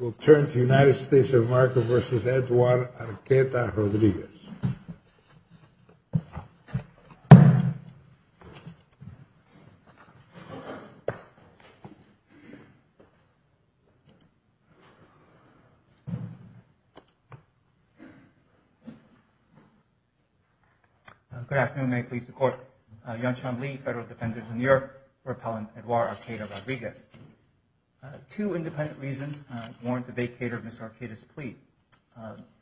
We'll turn to United States of America v. Edouard Arqueta-Rodriguez. Good afternoon, may I please the court. I'm John Chambliss, Federal Defender in Europe for Appellant Edouard Arqueta-Rodriguez. Two independent reasons warrant a vacater of Mr. Arqueta's plea.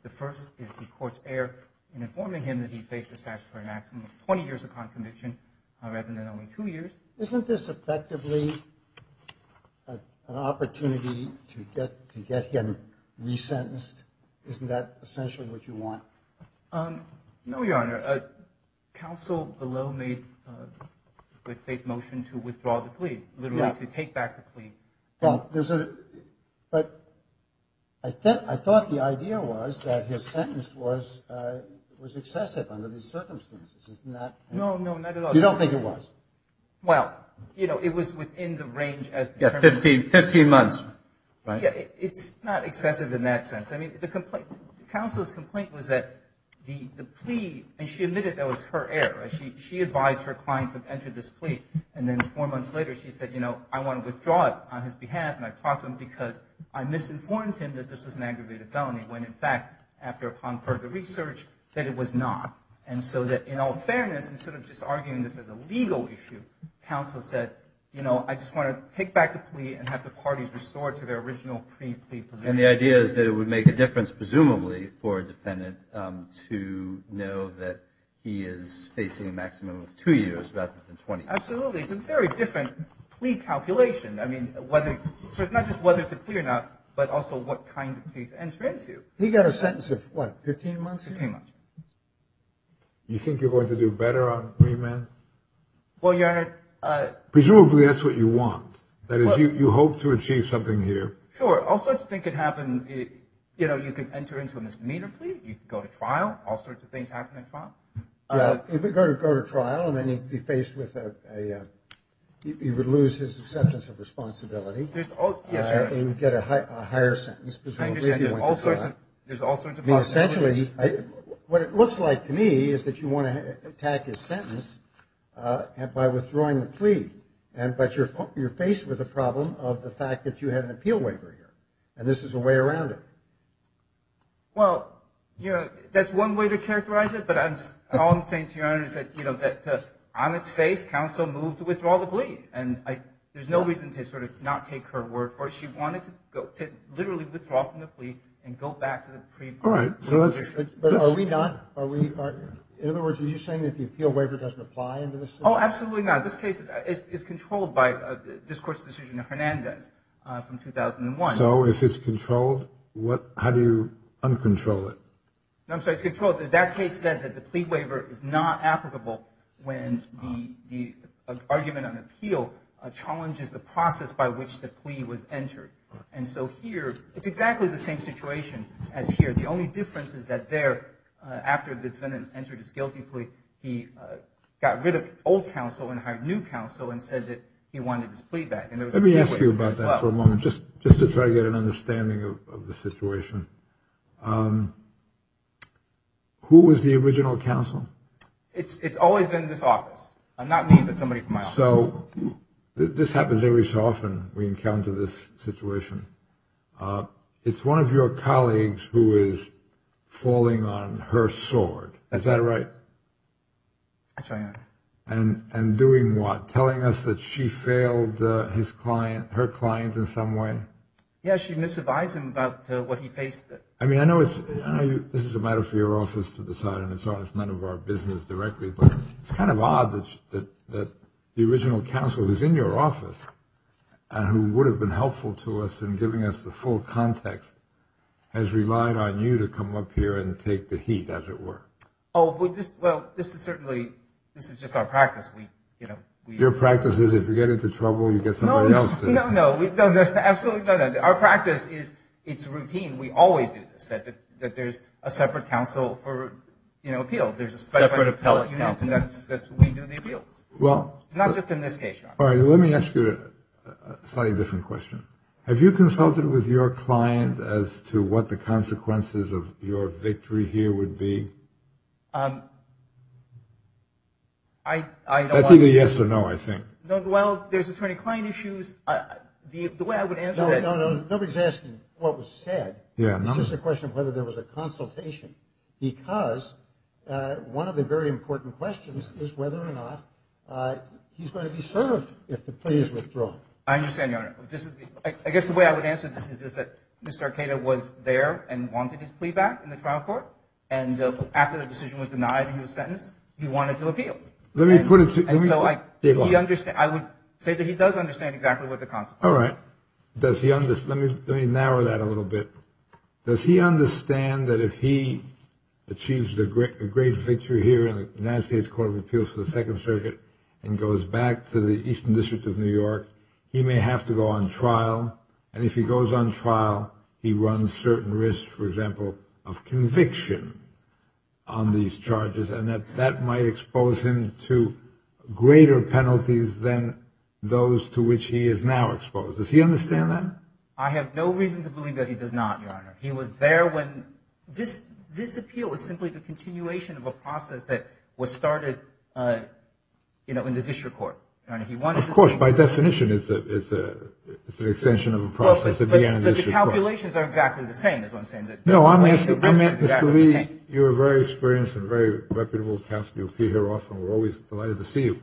The first is the court's error in informing him that he faced a statutory maximum of 20 years of crime conviction rather than only two years. Isn't this effectively an opportunity to get him resentenced? Isn't that essentially what you want? No, Your Honor, counsel below made a quick motion to withdraw the plea, literally to take back the plea. But I thought the idea was that his sentence was excessive under these circumstances. No, no, not at all. You don't think it was? Well, you know, it was within the range of 15 months. It's not excessive in that sense. Counsel's complaint was that the plea, and she admitted that was her error. She advised her client to enter this plea. And then four months later, she said, you know, I want to withdraw it on his behalf. And I talked to him because I misinformed him that this was an aggravated felony, when in fact, after upon further research, that it was not. And so that in all fairness, instead of just arguing this as a legal issue, counsel said, you know, I just want to take back the plea and have the parties restored to their original pre-plea position. And the idea is that it would make a difference, presumably, for a defendant to know that he is facing a maximum of two years rather than 20. Absolutely. It's a very different plea calculation. I mean, not just whether it's a plea or not, but also what kind of plea to enter into. He got a sentence of, what, 15 months? 15 months. You think you're going to do better on remand? Well, Your Honor. Presumably that's what you want. That is, you hope to achieve something here. Sure. All sorts of things could happen. You know, you could enter into a misdemeanor plea. You could go to trial. All sorts of things happen in trial. Yeah, he could go to trial, and then he'd be faced with a, he would lose his acceptance of responsibility. Yes, Your Honor. He would get a higher sentence. I understand. There's all sorts of possibilities. I mean, essentially, what it looks like to me is that you want to attack his sentence by withdrawing the plea. But you're faced with a problem of the fact that you had an appeal waiver here, and this is a way around it. Well, you know, that's one way to characterize it, but all I'm saying to Your Honor is that, you know, on its face, counsel moved to withdraw the plea. And there's no reason to sort of not take her word for it. She wanted to literally withdraw from the plea and go back to the pre-plea. All right. But are we not, are we, in other words, are you saying that the appeal waiver doesn't apply in this case? Oh, absolutely not. This case is controlled by this court's decision in Hernandez from 2001. So if it's controlled, how do you uncontrol it? I'm sorry, it's controlled. That case said that the plea waiver is not applicable when the argument on appeal challenges the process by which the plea was entered. And so here, it's exactly the same situation as here. But the only difference is that there, after the defendant entered his guilty plea, he got rid of old counsel and hired new counsel and said that he wanted his plea back. Let me ask you about that for a moment, just to try to get an understanding of the situation. Who was the original counsel? It's always been this office. Not me, but somebody from my office. So this happens every so often, we encounter this situation. It's one of your colleagues who is falling on her sword. Is that right? That's right. And doing what? Telling us that she failed her client in some way? Yes, she misadvised him about what he faced. I mean, I know this is a matter for your office to decide, and it's none of our business directly, but it's kind of odd that the original counsel, who's in your office, and who would have been helpful to us in giving us the full context, has relied on you to come up here and take the heat, as it were. Oh, well, this is certainly – this is just our practice. Your practice is if you get into trouble, you get somebody else to – No, no, no, absolutely not. Our practice is it's routine. We always do this, that there's a separate counsel for appeal. There's a specialized appellate counsel. We do the appeals. It's not just in this case, Your Honor. All right, let me ask you a slightly different question. Have you consulted with your client as to what the consequences of your victory here would be? I don't want to – That's either yes or no, I think. Well, there's attorney-client issues. The way I would answer that – No, no, no, nobody's asking what was said. It's just a question of whether there was a consultation, because one of the very important questions is whether or not he's going to be served if the plea is withdrawn. I understand, Your Honor. I guess the way I would answer this is that Mr. Arcada was there and wanted his plea back in the trial court, and after the decision was denied and he was sentenced, he wanted to appeal. Let me put it to you. And so I would say that he does understand exactly what the consequences are. All right. Let me narrow that a little bit. Does he understand that if he achieves a great victory here in the United States Court of Appeals for the Second Circuit and goes back to the Eastern District of New York, he may have to go on trial? And if he goes on trial, he runs certain risks, for example, of conviction on these charges, and that that might expose him to greater penalties than those to which he is now exposed. Does he understand that? I have no reason to believe that he does not, Your Honor. He was there when this appeal was simply the continuation of a process that was started in the district court. Of course, by definition, it's an extension of a process that began in the district court. But the calculations are exactly the same, is what I'm saying. Mr. Lee, you're a very experienced and very reputable counsel. You appear here often. We're always delighted to see you.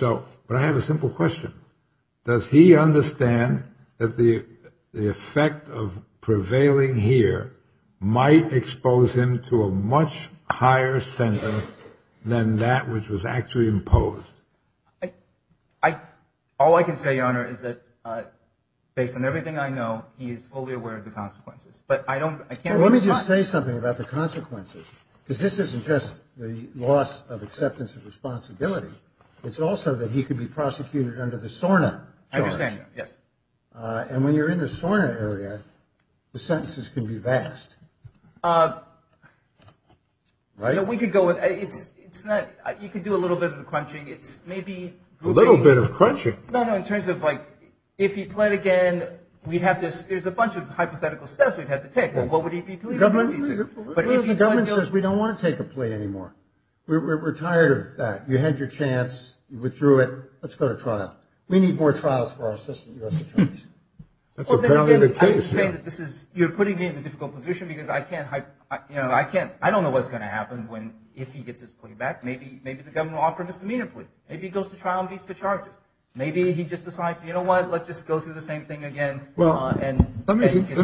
But I have a simple question. Does he understand that the effect of prevailing here might expose him to a much higher sentence than that which was actually imposed? All I can say, Your Honor, is that based on everything I know, he is fully aware of the consequences. But I don't – I can't – Well, let me just say something about the consequences, because this isn't just the loss of acceptance of responsibility. It's also that he could be prosecuted under the SORNA charge. I understand that, yes. And when you're in the SORNA area, the sentences can be vast, right? You know, we could go – it's not – you could do a little bit of the crunching. It's maybe – A little bit of crunching? No, no, in terms of, like, if he pled again, we'd have to – there's a bunch of hypothetical steps. We'd have to take. Well, what would he be pleading guilty to? The government says we don't want to take a plea anymore. We're tired of that. You had your chance. You withdrew it. Let's go to trial. We need more trials for our assistant U.S. attorneys. That's apparently the case. I was just saying that this is – you're putting me in a difficult position because I can't – you know, I can't – I don't know what's going to happen when – if he gets his plea back. Maybe the government will offer him his demeanor plea. Maybe he goes to trial and beats the charges. Maybe he just decides, you know what, let's just go through the same thing again. Well, let me suggest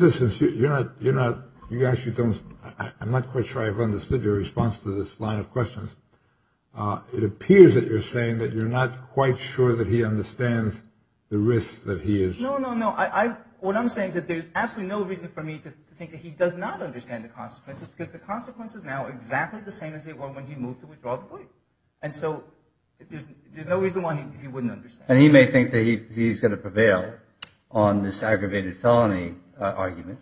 this. You're not – you actually don't – I'm not quite sure I've understood your response to this line of questions. It appears that you're saying that you're not quite sure that he understands the risks that he is – No, no, no. What I'm saying is that there's absolutely no reason for me to think that he does not understand the consequences because the consequences now are exactly the same as they were when he moved to withdraw the plea. And so there's no reason why he wouldn't understand. And he may think that he's going to prevail on this aggravated felony argument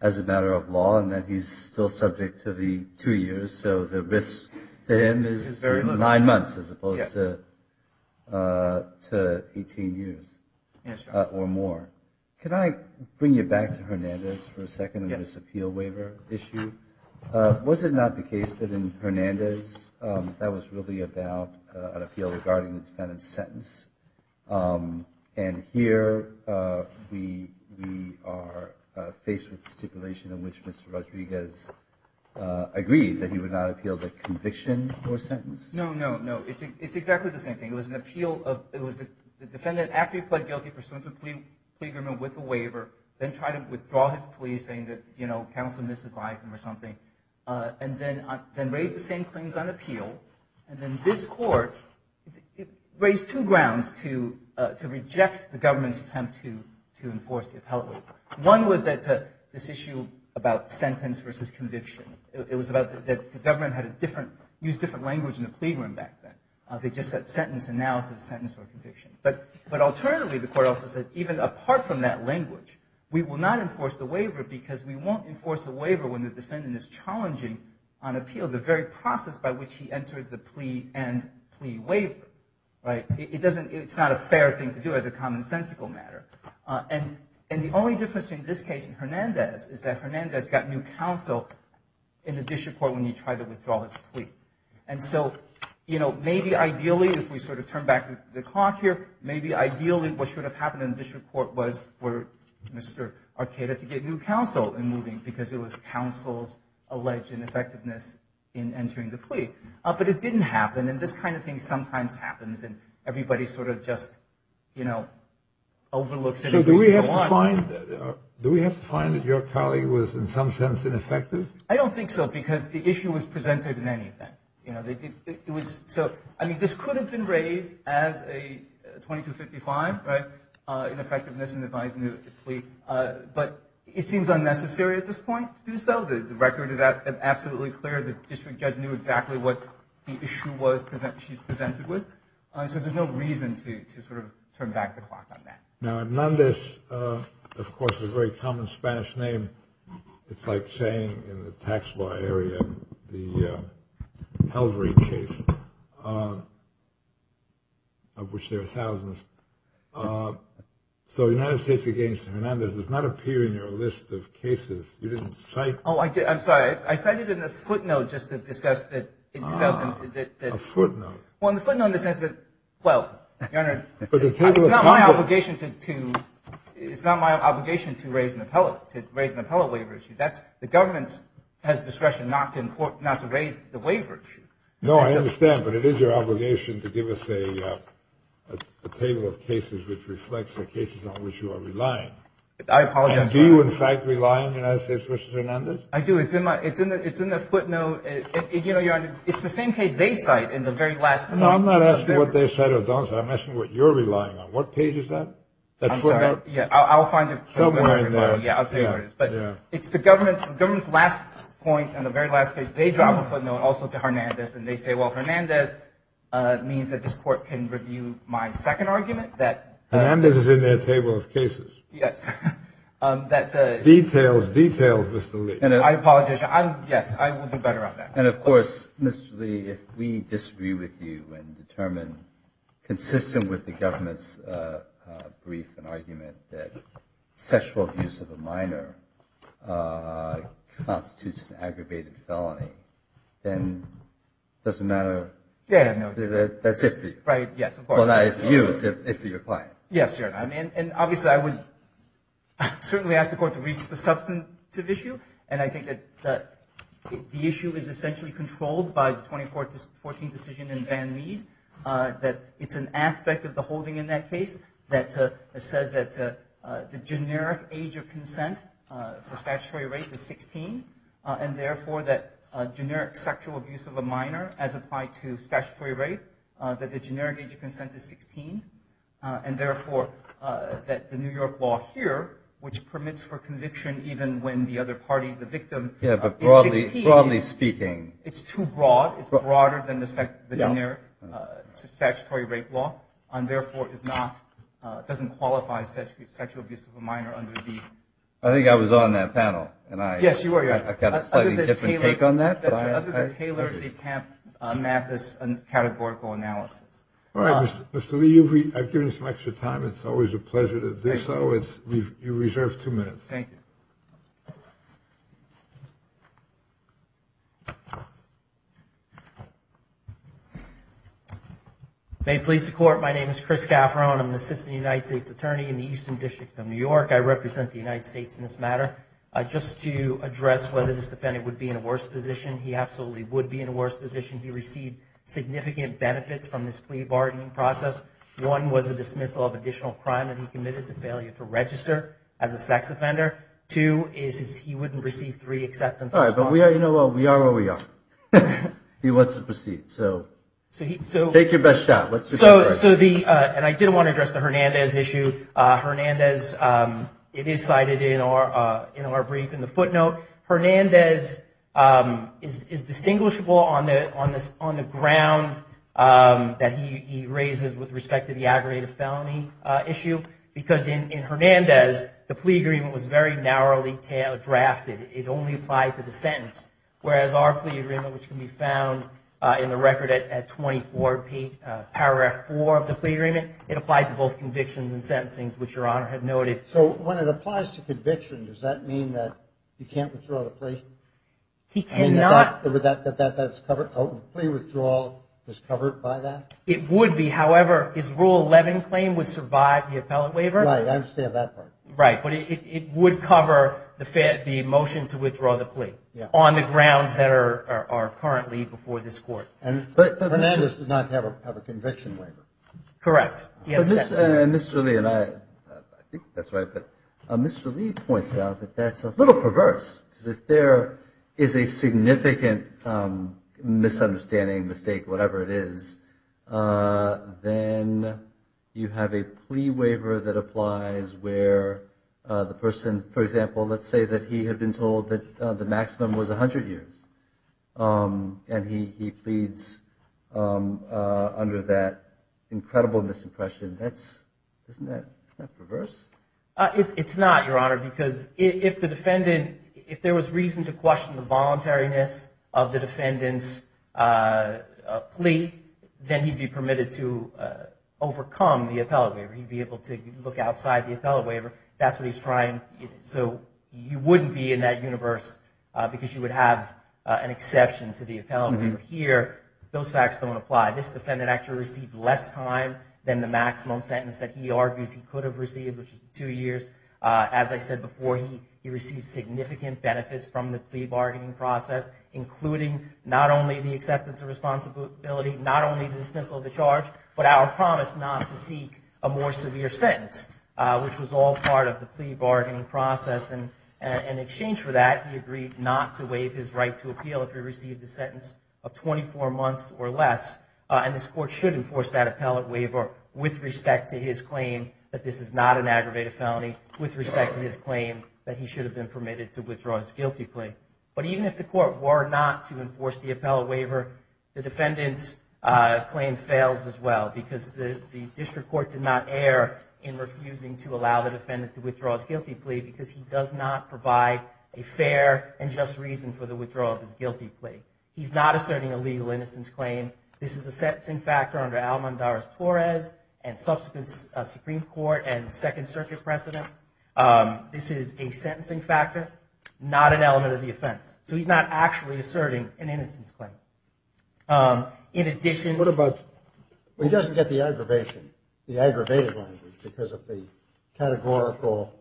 as a matter of law and that he's still subject to the two years, so the risk to him is nine months as opposed to 18 years or more. Could I bring you back to Hernandez for a second on this appeal waiver issue? Was it not the case that in Hernandez that was really about an appeal regarding the defendant's sentence? And here we are faced with the stipulation in which Mr. Rodriguez agreed that he would not appeal the conviction or sentence? No, no, no. It's exactly the same thing. It was an appeal of – it was the defendant after he pled guilty pursuant to a plea agreement with a waiver then tried to withdraw his plea saying that, you know, counsel misadvised him or something, and then raised the same claims on appeal. And then this Court raised two grounds to reject the government's attempt to enforce the appellate waiver. One was that this issue about sentence versus conviction. It was about that the government had a different – used different language in the plea room back then. They just said sentence, and now it's a sentence or conviction. But alternatively, the Court also said even apart from that language, we will not enforce the waiver because we won't enforce the waiver when the defendant is challenging on appeal the very process by which he entered the plea and plea waiver, right? It doesn't – it's not a fair thing to do as a commonsensical matter. And the only difference between this case and Hernandez is that Hernandez got new counsel in the district court when he tried to withdraw his plea. And so, you know, maybe ideally if we sort of turn back the clock here, maybe ideally what should have happened in the district court was for Mr. Arcada to get new counsel in moving because it was counsel's alleged ineffectiveness in entering the plea. But it didn't happen, and this kind of thing sometimes happens, and everybody sort of just, you know, overlooks it. So do we have to find – do we have to find that your colleague was in some sense ineffective? I don't think so because the issue was presented in any event. You know, it was – so, I mean, this could have been raised as a 2255, right, ineffectiveness in advising the plea, but it seems unnecessary at this point to do so. The record is absolutely clear. The district judge knew exactly what the issue was she was presented with. So there's no reason to sort of turn back the clock on that. Now, Hernandez, of course, is a very common Spanish name. It's like saying in the tax law area the Calvary case, of which there are thousands. So the United States against Hernandez does not appear in your list of cases. You didn't cite it. Oh, I did. I'm sorry. I cited it in the footnote just to discuss that in 2000. A footnote. Well, in the footnote in the sense that, well, Your Honor, it's not my obligation to raise an appellate. To raise an appellate waiver issue. The government has discretion not to raise the waiver issue. No, I understand. But it is your obligation to give us a table of cases which reflects the cases on which you are relying. I apologize. Do you, in fact, rely on the United States versus Hernandez? I do. It's in the footnote. You know, Your Honor, it's the same case they cite in the very last minute. No, I'm not asking what they cite or don't cite. I'm asking what you're relying on. What page is that? I'm sorry. Yeah, I'll find it. Somewhere in there. Yeah, I'll tell you where it is. But it's the government's last point on the very last page. They drop a footnote also to Hernandez, and they say, well, Hernandez means that this court can review my second argument. Hernandez is in their table of cases. Yes. Details, details, Mr. Lee. I apologize. Yes, I will do better on that. And, of course, Mr. Lee, if we disagree with you and determine, consistent with the government's brief and argument, that sexual abuse of a minor constitutes an aggravated felony, then it doesn't matter. Yeah, I know. That's it for you. Right, yes, of course. Well, not it's for you. It's for your client. Yes, Your Honor. And, obviously, I would certainly ask the court to reach the substantive issue, and I think that the issue is essentially controlled by the 2014 decision in Van Reed, that it's an aspect of the holding in that case that says that the generic age of consent for statutory rape is 16, and, therefore, that generic sexual abuse of a minor as applied to statutory rape, that the generic age of consent is 16, and, therefore, that the New York law here, which permits for conviction even when the other party, the victim, is 16. Yeah, but broadly speaking. It's too broad. It's broader than the generic statutory rape law, and, therefore, it doesn't qualify sexual abuse of a minor under the... I think I was on that panel, and I... Yes, you were, Your Honor. I've got a slightly different take on that, but... Other than Taylor, DeCamp, Mathis, and categorical analysis. All right, Mr. Lee, I've given you some extra time. It's always a pleasure to do so. Thank you. You reserve two minutes. Thank you. May it please the Court, my name is Chris Gafferon. I'm an assistant United States attorney in the Eastern District of New York. I represent the United States in this matter. Just to address whether this defendant would be in a worse position, he absolutely would be in a worse position. He received significant benefits from this plea bargaining process. One was the dismissal of additional crime that he committed, the failure to register as a sex offender. Two is he wouldn't receive three acceptance... All right, but we are where we are. He wants to proceed, so take your best shot. So the, and I did want to address the Hernandez issue. Hernandez, it is cited in our brief in the footnote. Hernandez is distinguishable on the ground that he raises with respect to the aggravated felony issue, because in Hernandez, the plea agreement was very narrowly drafted. It only applied to the sentence, whereas our plea agreement, which can be found in the record at 24 paragraph 4 of the plea agreement, it applied to both convictions and sentencing, which Your Honor had noted. All right, so when it applies to conviction, does that mean that he can't withdraw the plea? He cannot. That that's covered, a plea withdrawal is covered by that? It would be. However, his Rule 11 claim would survive the appellate waiver. Right, I understand that part. Right, but it would cover the motion to withdraw the plea on the grounds that are currently before this Court. But Hernandez did not have a conviction waiver. Correct. Mr. Lee, and I think that's right, but Mr. Lee points out that that's a little perverse, because if there is a significant misunderstanding, mistake, whatever it is, then you have a plea waiver that applies where the person, for example, let's say that he had been told that the maximum was 100 years, and he pleads under that incredible misimpression. Isn't that perverse? It's not, Your Honor, because if the defendant, if there was reason to question the voluntariness of the defendant's plea, then he'd be permitted to overcome the appellate waiver. He'd be able to look outside the appellate waiver. That's what he's trying. So you wouldn't be in that universe because you would have an exception to the appellate waiver here. Those facts don't apply. This defendant actually received less time than the maximum sentence that he argues he could have received, which is two years. As I said before, he received significant benefits from the plea bargaining process, including not only the acceptance of responsibility, not only the dismissal of the charge, but our promise not to seek a more severe sentence, which was all part of the plea bargaining process. And in exchange for that, he agreed not to waive his right to appeal if he received a sentence of 24 months or less. And this Court should enforce that appellate waiver with respect to his claim that this is not an aggravated felony, with respect to his claim that he should have been permitted to withdraw his guilty plea. But even if the Court were not to enforce the appellate waiver, the defendant's claim fails as well because the district court did not err in refusing to allow the defendant to withdraw his guilty plea because he does not provide a fair and just reason for the withdrawal of his guilty plea. He's not asserting a legal innocence claim. This is a sentencing factor under Alamandaris-Torres and subsequent Supreme Court and Second Circuit precedent. This is a sentencing factor, not an element of the offense. So he's not actually asserting an innocence claim. In addition- What about- Well, he doesn't get the aggravation, the aggravated language, because the categorical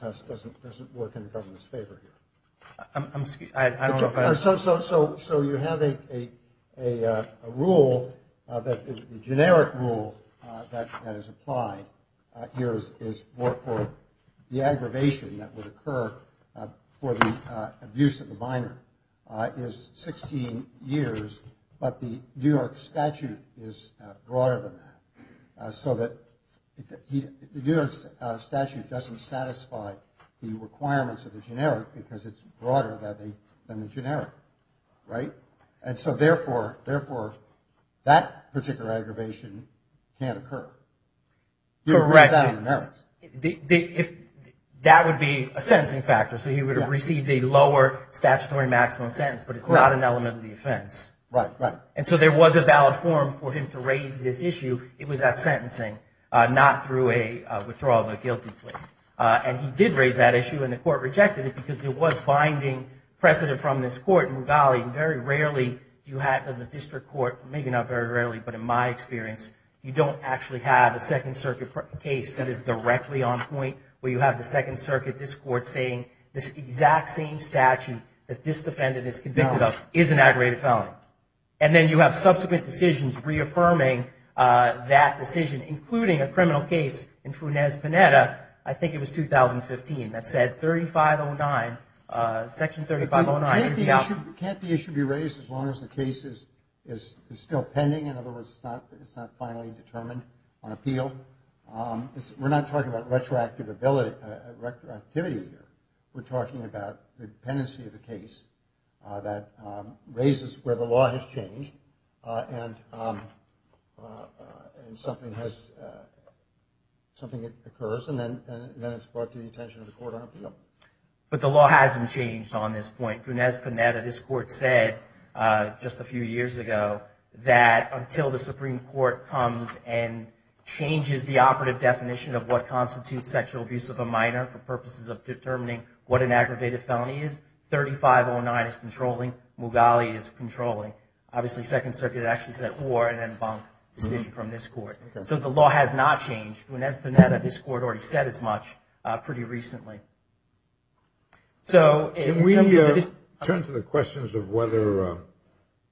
test doesn't work in the government's favor here. I'm sorry, I don't know if I- So you have a rule, a generic rule that is applied here is for the aggravation that would occur for the abuse of the minor is 16 years, but the New York statute is broader than that, so that the New York statute doesn't satisfy the requirements of the generic because it's broader than the generic, right? And so, therefore, that particular aggravation can't occur. Correct. That would be a sentencing factor, so he would have received a lower statutory maximum sentence, but it's not an element of the offense. Right, right. And so there was a valid forum for him to raise this issue. It was at sentencing, not through a withdrawal of a guilty plea. And he did raise that issue, and the court rejected it because there was binding precedent from this court. And, golly, very rarely you have, as a district court, maybe not very rarely, but in my experience, you don't actually have a Second Circuit case that is directly on point where you have the Second Circuit, this court, saying this exact same statute that this defendant is convicted of is an aggravated felony. And then you have subsequent decisions reaffirming that decision, including a criminal case in Funes Panetta, I think it was 2015, that said Section 3509 is valid. Can't the issue be raised as long as the case is still pending? In other words, it's not finally determined on appeal? We're not talking about retroactivity here. We're talking about the dependency of the case that raises where the law has changed and something occurs and then it's brought to the attention of the court on appeal. But the law hasn't changed on this point. In Funes Panetta, this court said just a few years ago that until the Supreme Court comes and changes the operative definition of what constitutes sexual abuse of a minor for purposes of determining what an aggravated felony is, 3509 is controlling, Mughali is controlling. Obviously, Second Circuit actually said or, and then Bonk decision from this court. So the law has not changed. Funes Panetta, this court already said it's much pretty recently. Can we turn to the questions of whether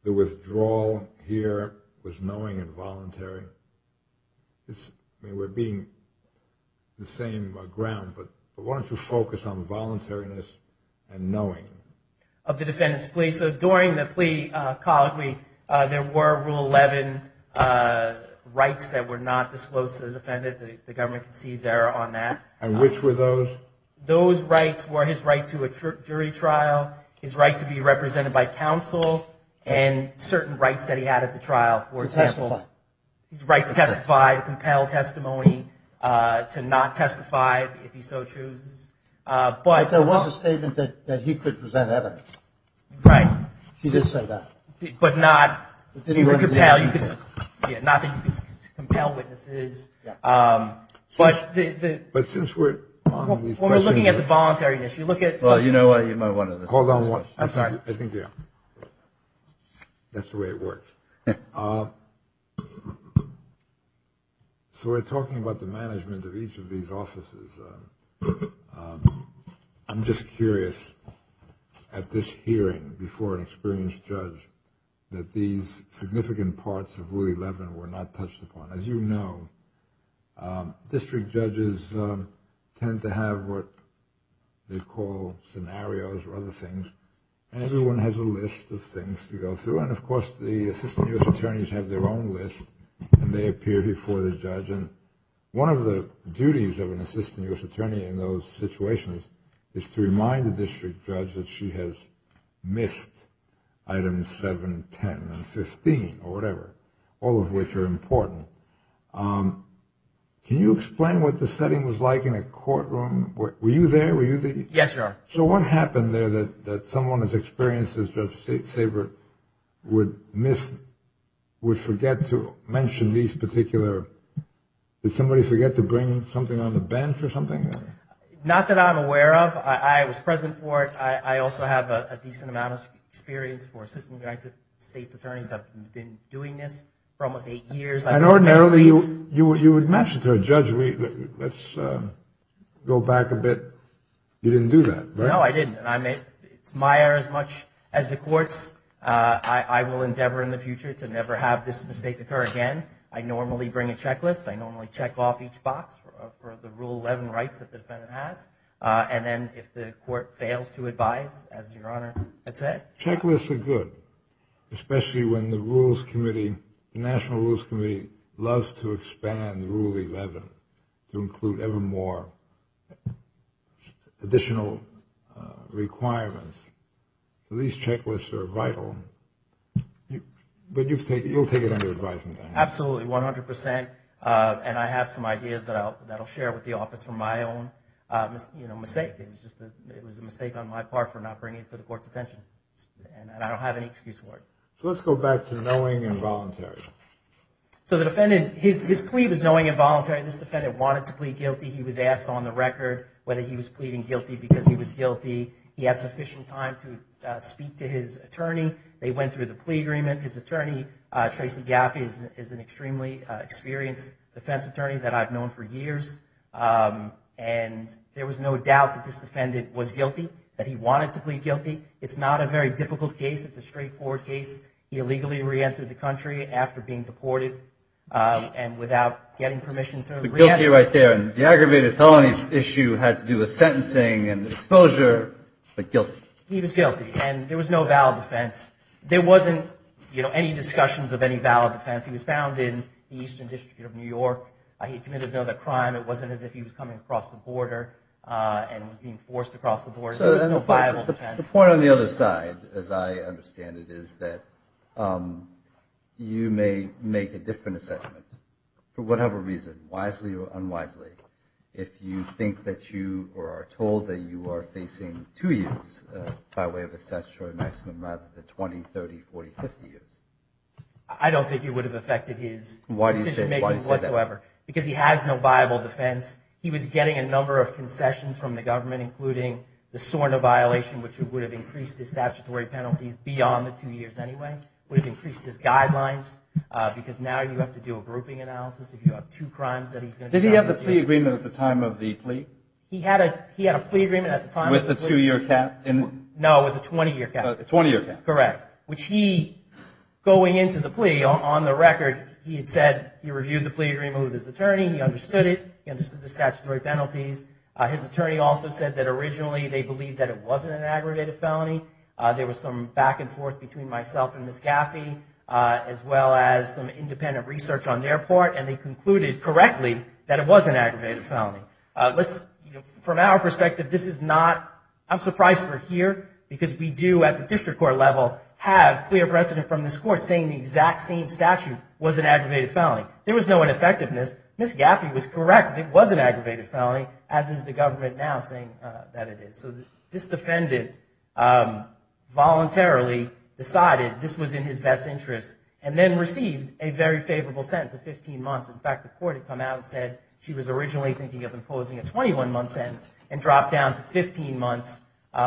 the withdrawal here was knowing and voluntary? I mean, we're being the same ground, but why don't you focus on voluntariness and knowing? Of the defendant's plea. So during the plea colloquy, there were Rule 11 rights that were not disclosed to the defendant. The government concedes error on that. And which were those? Those rights were his right to a jury trial, his right to be represented by counsel, and certain rights that he had at the trial, for example. To testify. Rights to testify, to compel testimony, to not testify if he so chooses. But there was a statement that he could present evidence. Right. He did say that. But not that you could compel witnesses. But since we're on these questions. When we're looking at the voluntariness, you look at. Well, you know what, you might want to. Hold on one second. I think we are. That's the way it works. So we're talking about the management of each of these offices. I'm just curious, at this hearing before an experienced judge, that these significant parts of Rule 11 were not touched upon. As you know, district judges tend to have what they call scenarios or other things, and everyone has a list of things to go through. And, of course, the assistant U.S. attorneys have their own list, and they appear before the judge. And one of the duties of an assistant U.S. attorney in those situations is to remind the district judge that she has missed items 7, 10, and 15, or whatever, all of which are important. Can you explain what the setting was like in a courtroom? Were you there? Yes, sir. So what happened there that someone as experienced as Judge Sabert would forget to mention these particular. Did somebody forget to bring something on the bench or something? Not that I'm aware of. I was present for it. I also have a decent amount of experience for assistant United States attorneys. I've been doing this for almost eight years. And ordinarily you would mention to a judge, let's go back a bit. You didn't do that, right? No, I didn't. It's my error as much as the court's. I will endeavor in the future to never have this mistake occur again. I normally bring a checklist. I normally check off each box for the Rule 11 rights that the defendant has. And then if the court fails to advise, as Your Honor had said. Checklists are good, especially when the National Rules Committee loves to expand Rule 11 to include ever more additional requirements. These checklists are vital. But you'll take it under advisement? Absolutely, 100%. And I have some ideas that I'll share with the office from my own mistake. It was a mistake on my part for not bringing it to the court's attention. And I don't have any excuse for it. So let's go back to knowing involuntary. So the defendant, his plea was knowing involuntary. This defendant wanted to plead guilty. He was asked on the record whether he was pleading guilty because he was guilty. He had sufficient time to speak to his attorney. They went through the plea agreement. His attorney, Tracy Gaffey, is an extremely experienced defense attorney that I've known for years. And there was no doubt that this defendant was guilty, that he wanted to plead guilty. It's not a very difficult case. It's a straightforward case. He illegally reentered the country after being deported and without getting permission to reenter. Guilty right there. And the aggravated felony issue had to do with sentencing and exposure, but guilty. He was guilty. And there was no valid defense. There wasn't, you know, any discussions of any valid defense. He was found in the Eastern District of New York. He committed another crime. It wasn't as if he was coming across the border and was being forced to cross the border. There was no viable defense. The point on the other side, as I understand it, is that you may make a different assessment for whatever reason, wisely or unwisely, if you think that you are told that you are facing two years by way of a statutory maximum rather than 20, 30, 40, 50 years. I don't think it would have affected his decision making whatsoever. Why do you say that? Because he has no viable defense. He was getting a number of concessions from the government, including the SORNA violation, which would have increased his statutory penalties beyond the two years anyway, would have increased his guidelines, because now you have to do a grouping analysis if you have two crimes that he's going to do. Did he have the plea agreement at the time of the plea? He had a plea agreement at the time of the plea. With the two-year cap? No, with the 20-year cap. The 20-year cap. Correct. Which he, going into the plea, on the record, he had said he reviewed the plea agreement with his attorney. He understood it. He understood the statutory penalties. His attorney also said that originally they believed that it wasn't an aggravated felony. There was some back and forth between myself and Ms. Gaffey, as well as some independent research on their part, and they concluded correctly that it was an aggravated felony. From our perspective, this is not, I'm surprised we're here, because we do, at the district court level, have clear precedent from this court saying the exact same statute was an aggravated felony. There was no ineffectiveness. Ms. Gaffey was correct. It was an aggravated felony, as is the government now saying that it is. So this defendant voluntarily decided this was in his best interest and then received a very favorable sentence of 15 months. In fact, the court had come out and said she was originally thinking of imposing a 21-month sentence and dropped down to 15 months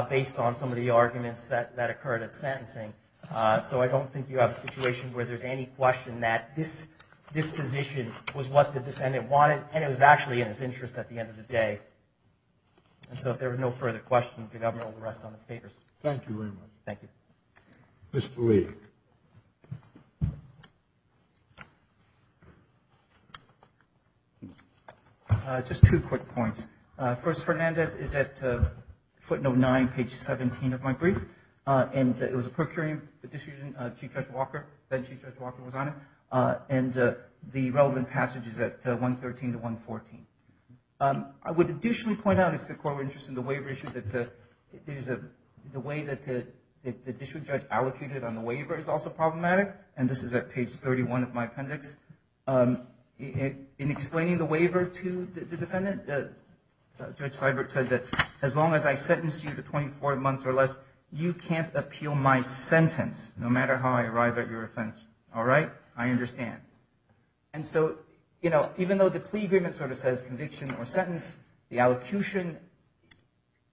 based on some of the arguments that occurred at sentencing. So I don't think you have a situation where there's any question that this disposition was what the defendant wanted, and it was actually in his interest at the end of the day. And so if there are no further questions, the government will rest on its papers. Thank you very much. Thank you. Mr. Lee. Just two quick points. First, Fernandez is at footnote 9, page 17 of my brief, and it was a procuring decision. Chief Judge Walker, then Chief Judge Walker, was on it, and the relevant passage is at 113 to 114. I would additionally point out, if the court were interested in the waiver issue, that the way that the district judge allocated it on the waiver is also problematic, and this is at page 31 of my appendix. In explaining the waiver to the defendant, Judge Feinberg said that as long as I sentence you to 24 months or less, you can't appeal my sentence no matter how I arrive at your offense. All right? I understand. And so, you know, even though the plea agreement sort of says conviction or sentence, the allocution,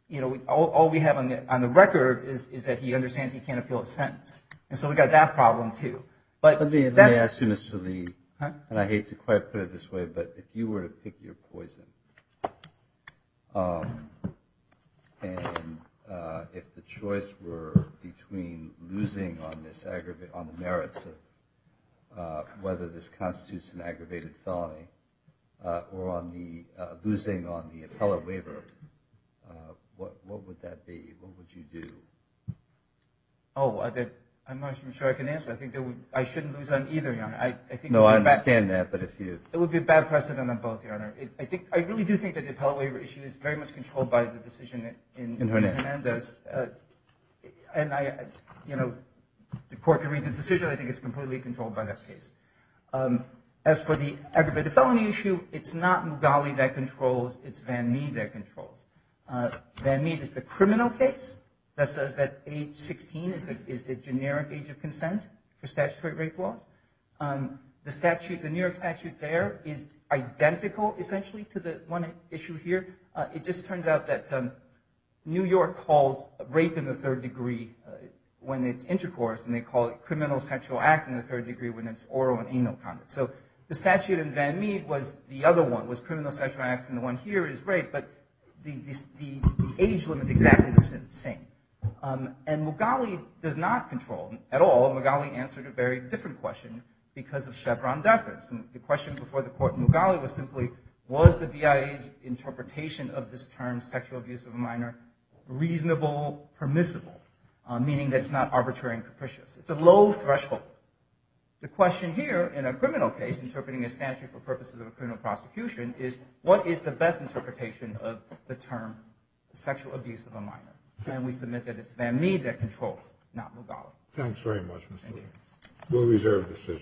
you know, all we have on the record is that he understands he can't appeal a sentence. And so we've got that problem, too. Let me ask you, Mr. Lee, and I hate to quite put it this way, but if you were to pick your poison, and if the choice were between losing on the merits of whether this constitutes an aggravated felony or losing on the appellate waiver, what would that be? What would you do? Oh, I'm not sure I can answer. I think I shouldn't lose on either, Your Honor. No, I understand that. It would be a bad precedent on both, Your Honor. I really do think that the appellate waiver issue is very much controlled by the decision in Hernandez. And, you know, the court can read the decision. I think it's completely controlled by that case. As for the aggravated felony issue, it's not Mugali that controls, it's Van Mead that controls. Van Mead is the criminal case. That says that age 16 is the generic age of consent for statutory rape laws. The statute, the New York statute there, is identical, essentially, to the one issue here. It just turns out that New York calls rape in the third degree when it's intercourse, and they call it criminal sexual act in the third degree when it's oral and anal conduct. So the statute in Van Mead was the other one, was criminal sexual acts, and the one here is rape, but the age limit is exactly the same. And Mugali does not control, at all. Mugali answered a very different question because of Chevron death rates. And the question before the court in Mugali was simply, was the BIA's interpretation of this term, sexual abuse of a minor, reasonable, permissible, meaning that it's not arbitrary and capricious. It's a low threshold. The question here in a criminal case, interpreting a statute for purposes of a criminal prosecution, is what is the best interpretation of the term sexual abuse of a minor? And we submit that it's Van Mead that controls, not Mugali. Thanks very much, Mr. Lee. We'll reserve the decision.